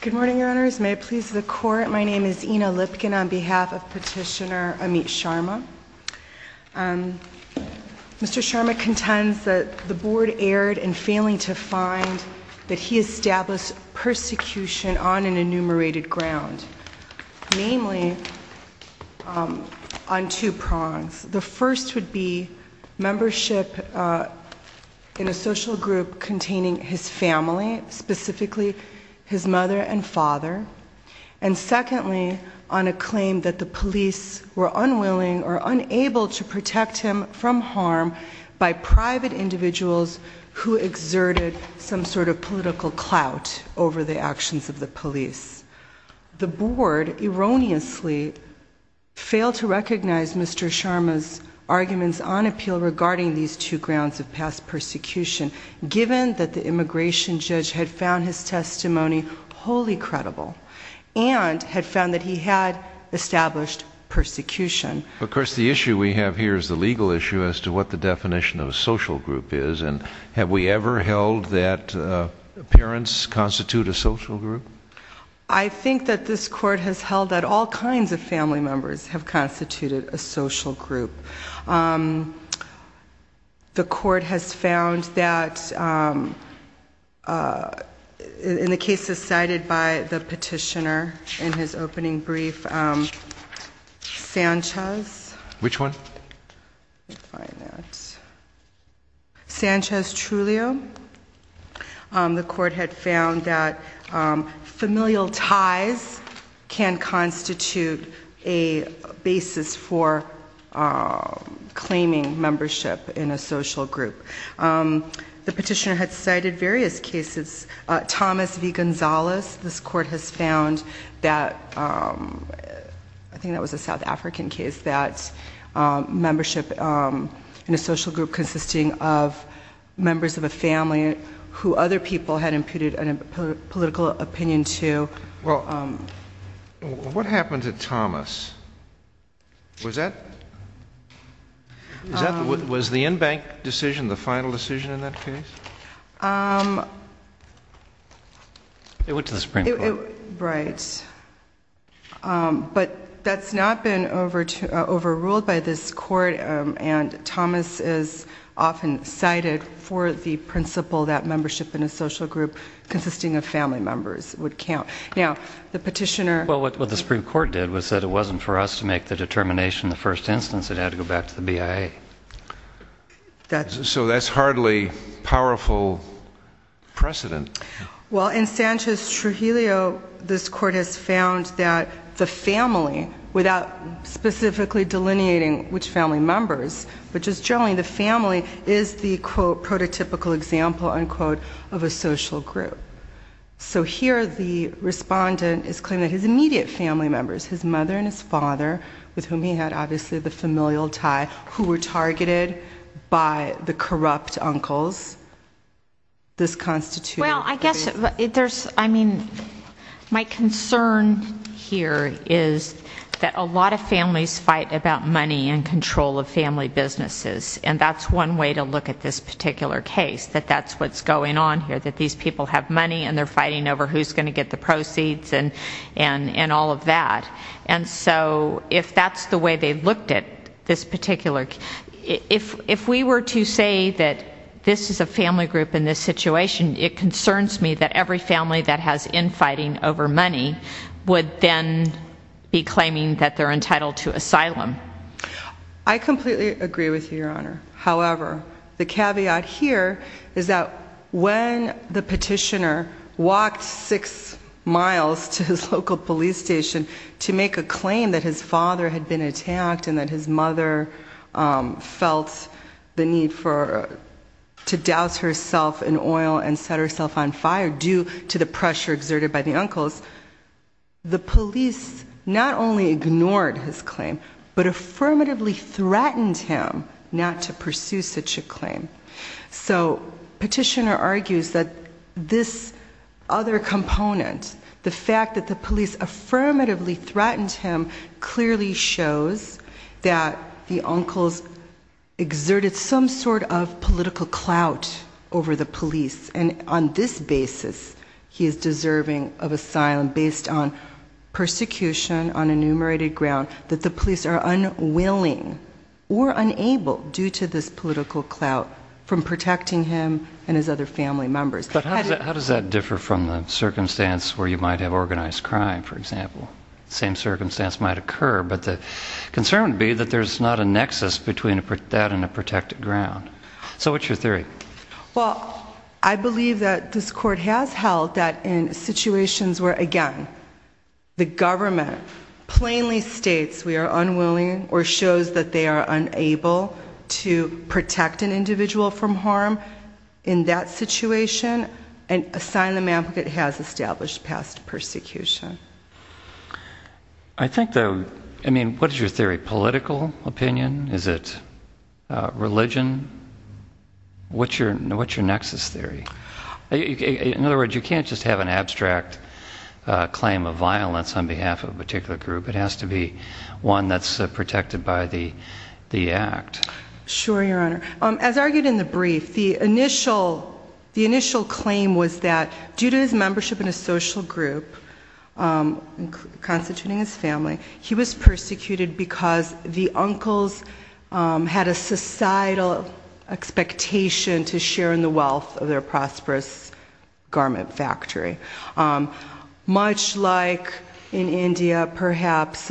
Good morning, Your Honors. May it please the Court, my name is Ina Lipkin on behalf of Petitioner Amit Sharma. Mr. Sharma contends that the Board erred in failing to find that he established persecution on an enumerated ground, namely on two prongs. The first would be membership in a social group containing his family, specifically his mother and father. And secondly, on a claim that the police were unwilling or unable to protect him from harm by private individuals who exerted some sort of political clout over the actions of the police. The Board erroneously failed to recognize Mr. Sharma's arguments on appeal regarding these two grounds of past persecution, given that the immigration judge had found his testimony wholly credible and had found that he had established persecution. Of course, the issue we have here is the legal issue as to what the definition of a social group is. And have we ever held that parents constitute a social group? I think that this Court has held that all kinds of family members have constituted a social group. The Court has found that, in the cases cited by the petitioner in his opening brief, Sanchez... Which one? Let me find that. Sanchez-Trujillo. The Court had found that familial ties can constitute a basis for claiming membership in a social group. The petitioner had cited various cases. Thomas v. Gonzalez. This Court has found that... I think that was a South African case... that membership in a social group consisting of members of a family who other people had imputed a political opinion to... What happened to Thomas? Was the in-bank decision the final decision in that case? It went to the Supreme Court. Right. But that's not been overruled by this Court. And Thomas is often cited for the principle that membership in a social group consisting of family members would count. Now, the petitioner... Well, what the Supreme Court did was that it wasn't for us to make the determination in the first instance. It had to go back to the BIA. So that's hardly powerful precedent. Well, in Sanchez-Trujillo, this Court has found that the family, without specifically delineating which family members, but just generally the family is the, quote, prototypical example, unquote, of a social group. So here the respondent is claiming that his immediate family members, his mother and his father, with whom he had obviously the familial tie, who were targeted by the corrupt uncles, this constituted... Well, I guess there's, I mean, my concern here is that a lot of families fight about money and control of family businesses. And that's one way to look at this particular case, that that's what's going on here, that these people have money and they're fighting over who's going to get the proceeds and all of that. And so if that's the way they looked at this particular... If we were to say that this is a family group in this situation, it concerns me that every family that has infighting over money would then be claiming that they're entitled to asylum. I completely agree with you, Your Honor. However, the caveat here is that when the petitioner walked six miles to his local police station to make a claim that his father had been attacked and that his mother felt the need to douse herself in oil and set herself on fire due to the pressure exerted by the uncles, the police not only ignored his claim, but affirmatively threatened him not to pursue such a claim. So petitioner argues that this other component, the fact that the police affirmatively threatened him, clearly shows that the uncles exerted some sort of political clout over the police. And on this basis, he is deserving of asylum based on persecution on enumerated ground that the police are unwilling or unable, due to this political clout, from protecting him and his other family members. But how does that differ from the circumstance where you might have organized crime, for example? The same circumstance might occur, but the concern would be that there's not a nexus between that and a protected ground. So what's your theory? Well, I believe that this court has held that in situations where, again, the government plainly states we are unwilling or shows that they are unable to protect an individual from harm in that situation, an asylum applicant has established past persecution. I mean, what is your theory? Political opinion? Is it religion? What's your nexus theory? In other words, you can't just have an abstract claim of violence on behalf of a particular group. It has to be one that's protected by the act. Sure, Your Honor. As argued in the brief, the initial claim was that due to his membership in a social group, constituting his family, he was persecuted because the uncles had a societal expectation to share in the wealth of their prosperous garment factory. Much like in India, perhaps,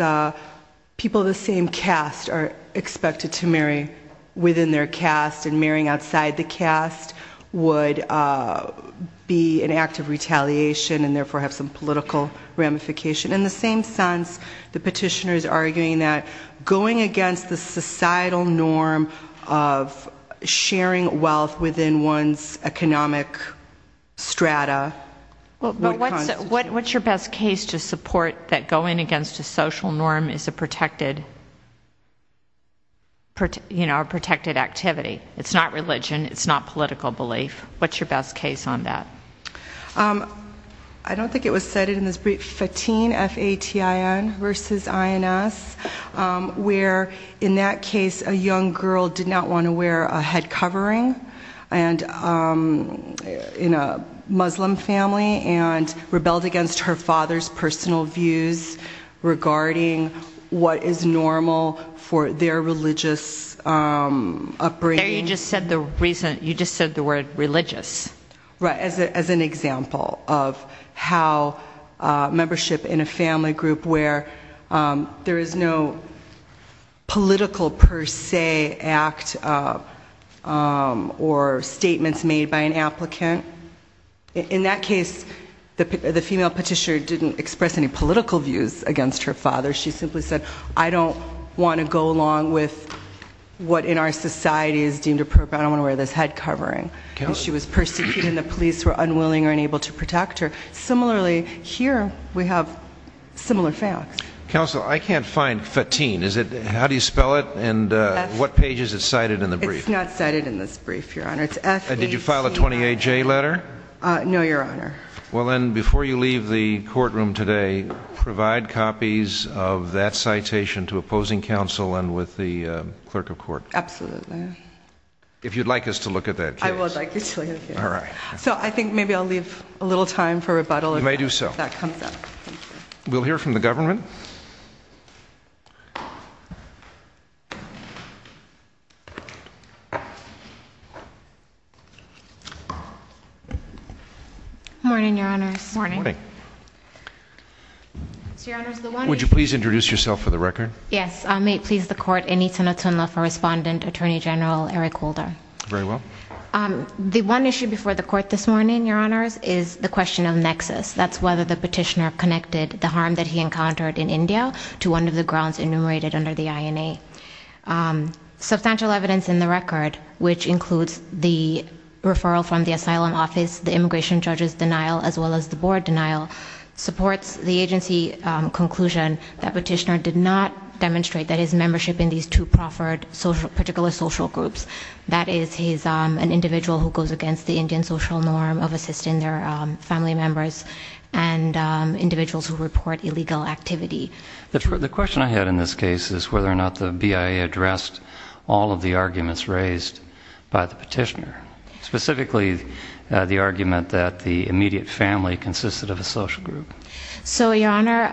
people of the same caste are expected to marry within their caste, and marrying outside the caste would be an act of retaliation and therefore have some political ramification. In the same sense, the petitioner is arguing that going against the societal norm of sharing wealth within one's economic strata What's your best case to support that going against a social norm is a protected activity? It's not religion, it's not political belief. What's your best case on that? I don't think it was said in this brief, FATIN, F-A-T-I-N, versus I-N-S, where in that case a young girl did not want to wear a head covering in a Muslim family and rebelled against her father's personal views regarding what is normal for their religious upbringing. There you just said the word religious. Right, as an example of how membership in a family group where there is no political per se act or statements made by an applicant. In that case, the female petitioner didn't express any political views against her father. She simply said, I don't want to go along with what in our society is deemed appropriate. I don't want to wear this head covering. She was persecuted and the police were unwilling or unable to protect her. Similarly, here we have similar facts. Counsel, I can't find FATIN. How do you spell it and what page is it cited in the brief? It's not cited in this brief, Your Honor. It's F-A-T-I-N. Did you file a 28-J letter? No, Your Honor. Well then, before you leave the courtroom today, provide copies of that citation to opposing counsel and with the clerk of court. Absolutely. If you'd like us to look at that case. I would like you to look at the case. All right. So I think maybe I'll leave a little time for rebuttal. You may do so. If that comes up. We'll hear from the government. Morning, Your Honors. Morning. Would you please introduce yourself for the record? Yes. I may please the court. Anita Natsunla for Respondent, Attorney General Eric Holder. Very well. The one issue before the court this morning, Your Honors, is the question of nexus. That's whether the petitioner connected the harm that he encountered in India to one of the grounds enumerated under the INA. Substantial evidence in the record, which includes the referral from the asylum office, the immigration judge's denial, as well as the board denial, supports the agency conclusion that petitioner did not demonstrate that his membership in these two proffered particular social groups. That is, he's an individual who goes against the Indian social norm of assisting their family members and individuals who report illegal activity. The question I had in this case is whether or not the BIA addressed all of the arguments raised by the petitioner. Specifically, the argument that the immediate family consisted of a social group. So, Your Honor,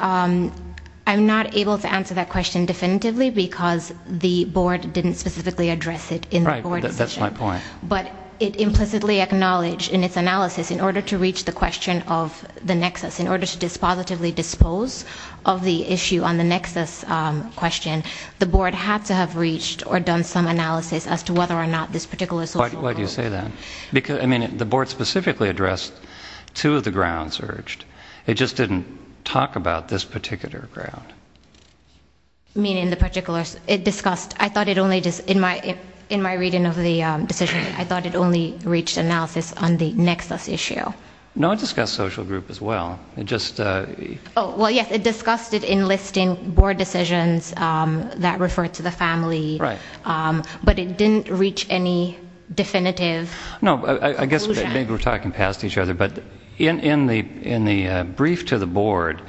I'm not able to answer that question definitively because the board didn't specifically address it in the board decision. Right. That's my point. But it implicitly acknowledged in its analysis in order to reach the question of the nexus, in order to dispositively dispose of the issue on the nexus question, the board had to have reached or done some analysis as to whether or not this particular social group Why do you say that? Because, I mean, the board specifically addressed two of the grounds urged. It just didn't talk about this particular ground. Meaning the particular, it discussed, I thought it only, in my reading of the decision, I thought it only reached analysis on the nexus issue. No, it discussed social group as well. It just No, I guess maybe we're talking past each other, but in the brief to the board,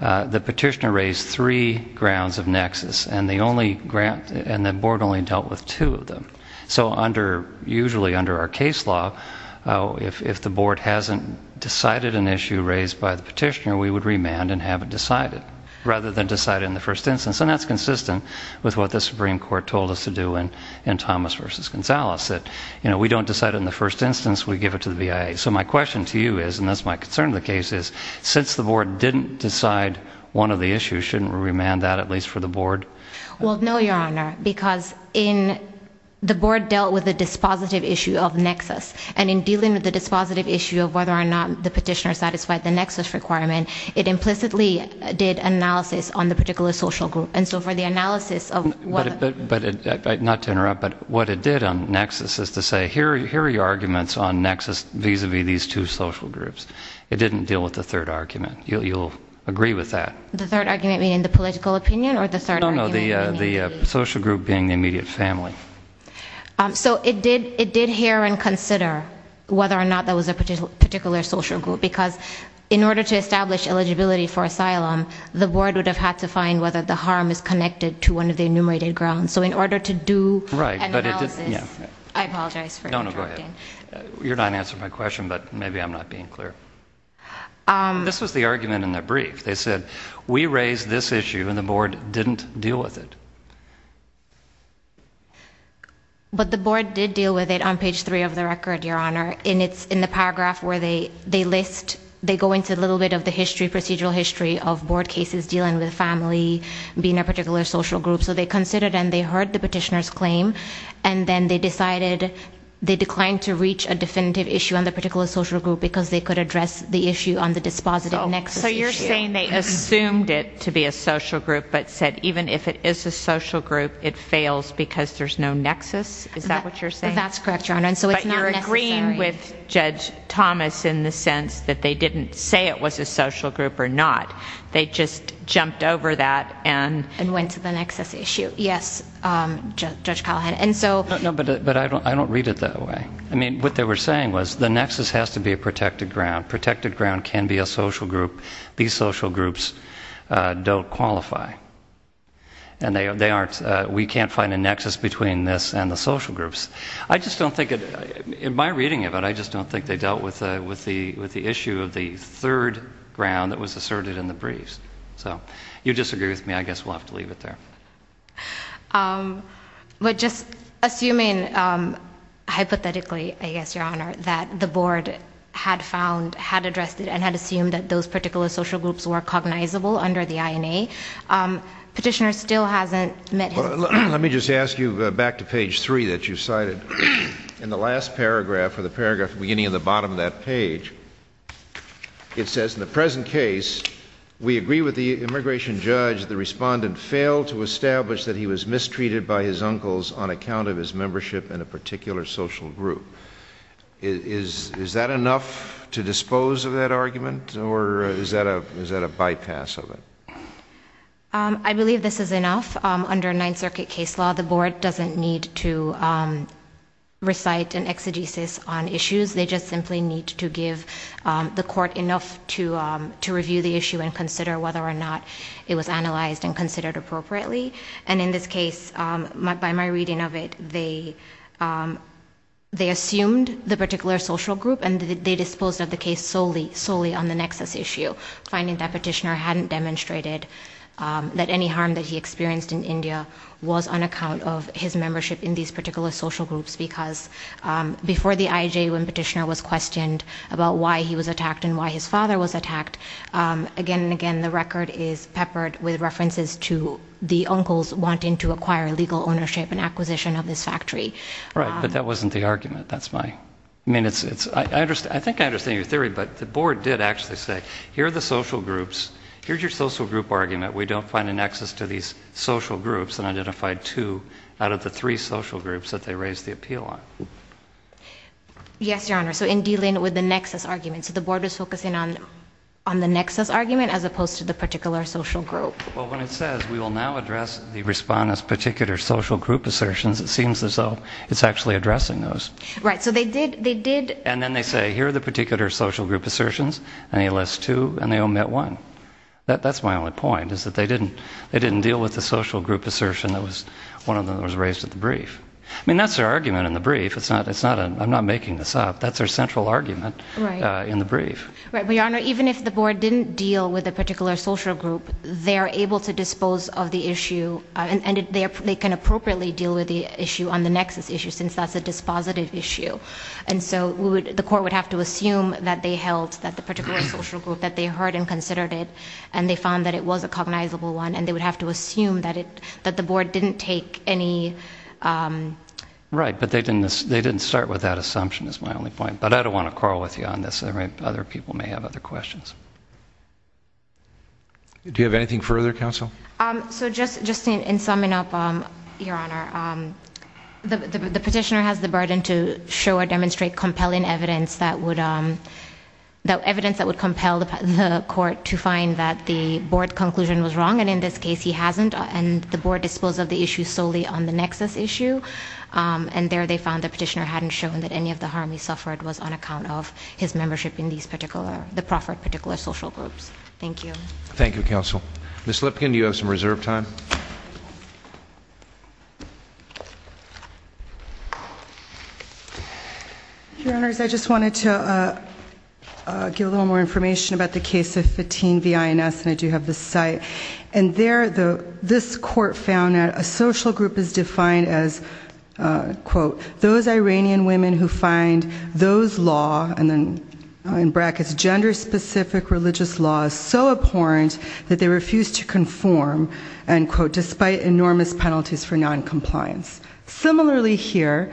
the petitioner raised three grounds of nexus. And the board only dealt with two of them. So, usually under our case law, if the board hasn't decided an issue raised by the petitioner, we would remand and have it decided. Rather than decide it in the first instance. And that's consistent with what the Supreme Court told us to do in Thomas v. Gonzalez. That, you know, we don't decide it in the first instance, we give it to the BIA. So my question to you is, and that's my concern in the case is, since the board didn't decide one of the issues, shouldn't we remand that, at least for the board? Well, no, Your Honor, because in, the board dealt with the dispositive issue of nexus. And in dealing with the dispositive issue of whether or not the petitioner satisfied the nexus requirement, it implicitly did analysis on the particular social group. And so for the analysis of what Not to interrupt, but what it did on nexus is to say, here are your arguments on nexus vis-a-vis these two social groups. It didn't deal with the third argument. You'll agree with that. The third argument being the political opinion? No, no, the social group being the immediate family. So it did hear and consider whether or not that was a particular social group. Because in order to establish eligibility for asylum, the board would have had to find whether the harm is connected to one of the enumerated grounds. So in order to do an analysis, I apologize for interrupting. No, no, go ahead. You're not answering my question, but maybe I'm not being clear. This was the argument in the brief. They said, we raised this issue and the board didn't deal with it. But the board did deal with it on page three of the record, Your Honor. And it's in the paragraph where they list, they go into a little bit of the history, procedural history of board cases dealing with family, being a particular social group. So they considered and they heard the petitioner's claim. And then they decided, they declined to reach a definitive issue on the particular social group because they could address the issue on the dispositive nexus issue. You're saying they assumed it to be a social group, but said even if it is a social group, it fails because there's no nexus? Is that what you're saying? That's correct, Your Honor. And so it's not necessary. But you're agreeing with Judge Thomas in the sense that they didn't say it was a social group or not. They just jumped over that and... And went to the nexus issue. Yes, Judge Callahan. And so... No, but I don't read it that way. I mean, what they were saying was, the nexus has to be a protected ground. A protected ground can be a social group. These social groups don't qualify. And they aren't... We can't find a nexus between this and the social groups. I just don't think... In my reading of it, I just don't think they dealt with the issue of the third ground that was asserted in the briefs. So, you disagree with me. I guess we'll have to leave it there. But just assuming, hypothetically, I guess, Your Honor, that the board had found, had addressed it, and had assumed that those particular social groups were cognizable under the INA, petitioner still hasn't met him. Let me just ask you back to page 3 that you cited. In the last paragraph, or the paragraph beginning at the bottom of that page, it says, In the present case, we agree with the immigration judge, the respondent failed to establish that he was mistreated by his uncles on account of his membership in a particular social group. Is that enough to dispose of that argument? Or is that a bypass of it? I believe this is enough. Under Ninth Circuit case law, the board doesn't need to recite an exegesis on issues. They just simply need to give the court enough to review the issue and consider whether or not it was analyzed and considered appropriately. And in this case, by my reading of it, they assumed the particular social group and they disposed of the case solely on the nexus issue, finding that petitioner hadn't demonstrated that any harm that he experienced in India was on account of his membership in these particular social groups because before the IJ, when petitioner was questioned about why he was attacked and why his father was attacked, again and again, the record is peppered with references to the uncles wanting to acquire legal ownership and acquisition of this factory. Right, but that wasn't the argument. I think I understand your theory, but the board did actually say, Here are the social groups. Here's your social group argument. We don't find a nexus to these social groups and identified two out of the three social groups that they raised the appeal on. Yes, Your Honor, so in dealing with the nexus argument, so the board was focusing on the nexus argument as opposed to the particular social group. Well, when it says we will now address the respondent's particular social group assertions, it seems as though it's actually addressing those. Right, so they did... And then they say, Here are the particular social group assertions, and they list two and they omit one. That's my only point, is that they didn't deal with the social group assertion that was one of them that was raised at the brief. I mean, that's their argument in the brief. I'm not making this up. That's their central argument in the brief. Right, but Your Honor, even if the board didn't deal with a particular social group, they're able to dispose of the issue, and they can appropriately deal with the issue on the nexus issue, since that's a dispositive issue. And so the court would have to assume that they held that the particular social group that they heard and considered it, and they found that it was a cognizable one, and they would have to assume that the board didn't take any... Right, but they didn't start with that assumption, is my only point. But I don't want to quarrel with you on this. Other people may have other questions. Do you have anything further, counsel? So just in summing up, Your Honor, the petitioner has the burden to show or demonstrate compelling evidence that would compel the court to find that the board conclusion was wrong, and in this case he hasn't, and the board disposed of the issue solely on the nexus issue. And there they found the petitioner hadn't shown that any of the harm he suffered was on account of his membership in the proffered particular social groups. Thank you. Thank you, counsel. Ms. Lipkin, do you have some reserve time? Your Honors, I just wanted to give a little more information about the case of Fatim v. INS, and I do have the site. And there this court found that a social group is defined as, quote, those Iranian women who find those law, and then in brackets, gender-specific religious laws so abhorrent that they refuse to conform despite enormous penalties for noncompliance. Similarly here,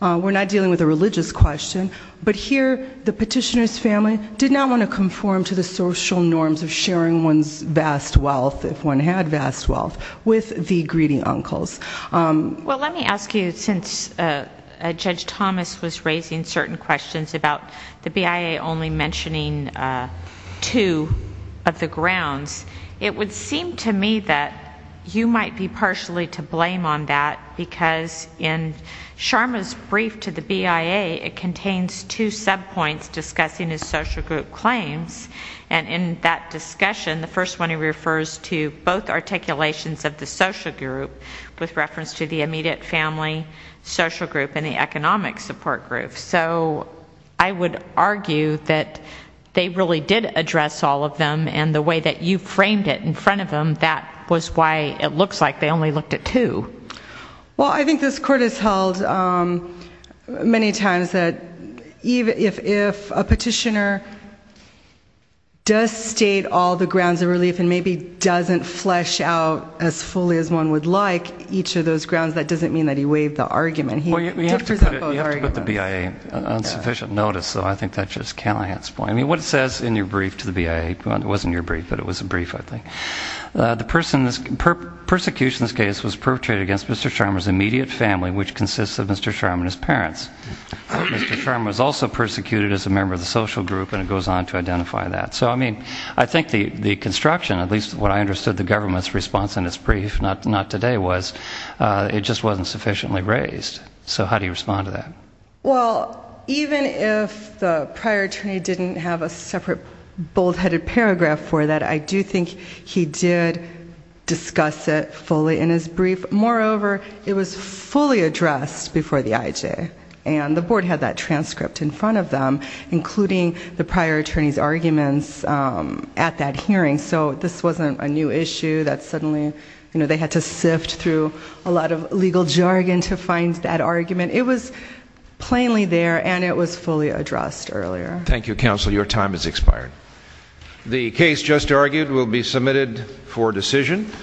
we're not dealing with a religious question, but here the petitioner's family did not want to conform to the social norms of sharing one's vast wealth, if one had vast wealth, with the greedy uncles. Well, let me ask you, since Judge Thomas was raising certain questions about the BIA only mentioning two of the grounds, it would seem to me that you might be partially to blame on that because in Sharma's brief to the BIA, it contains two subpoints discussing his social group claims. And in that discussion, the first one he refers to both articulations of the social group with reference to the immediate family, social group, and the economic support group. So I would argue that they really did address all of them and the way that you framed it in front of them, that was why it looks like they only looked at two. Well, I think this court has held many times that if a petitioner does state all the grounds of relief and maybe doesn't flesh out as fully as one would like each of those grounds, that doesn't mean that he waived the argument. Well, you have to put the BIA on sufficient notice, so I think that's just Callahan's point. I mean, what it says in your brief to the BIA, well, it wasn't your brief, but it was a brief, I think. Persecution in this case was perpetrated against Mr. Sharma's immediate family, which consists of Mr. Sharma and his parents. Mr. Sharma was also persecuted as a member of the social group, and it goes on to identify that. So I mean, I think the construction, at least what I understood the government's response in its brief, not today, was it just wasn't sufficiently raised. So how do you respond to that? Well, even if the prior attorney didn't have a separate bold-headed paragraph for that, I do think he did discuss it fully in his brief. Moreover, it was fully addressed before the IJ, and the board had that transcript in front of them, including the prior attorney's arguments at that hearing. So this wasn't a new issue that suddenly, you know, they had to sift through a lot of legal jargon to find that argument. It was plainly there, and it was fully addressed earlier. Thank you, counsel. Your time has expired. The case just argued will be submitted for decision.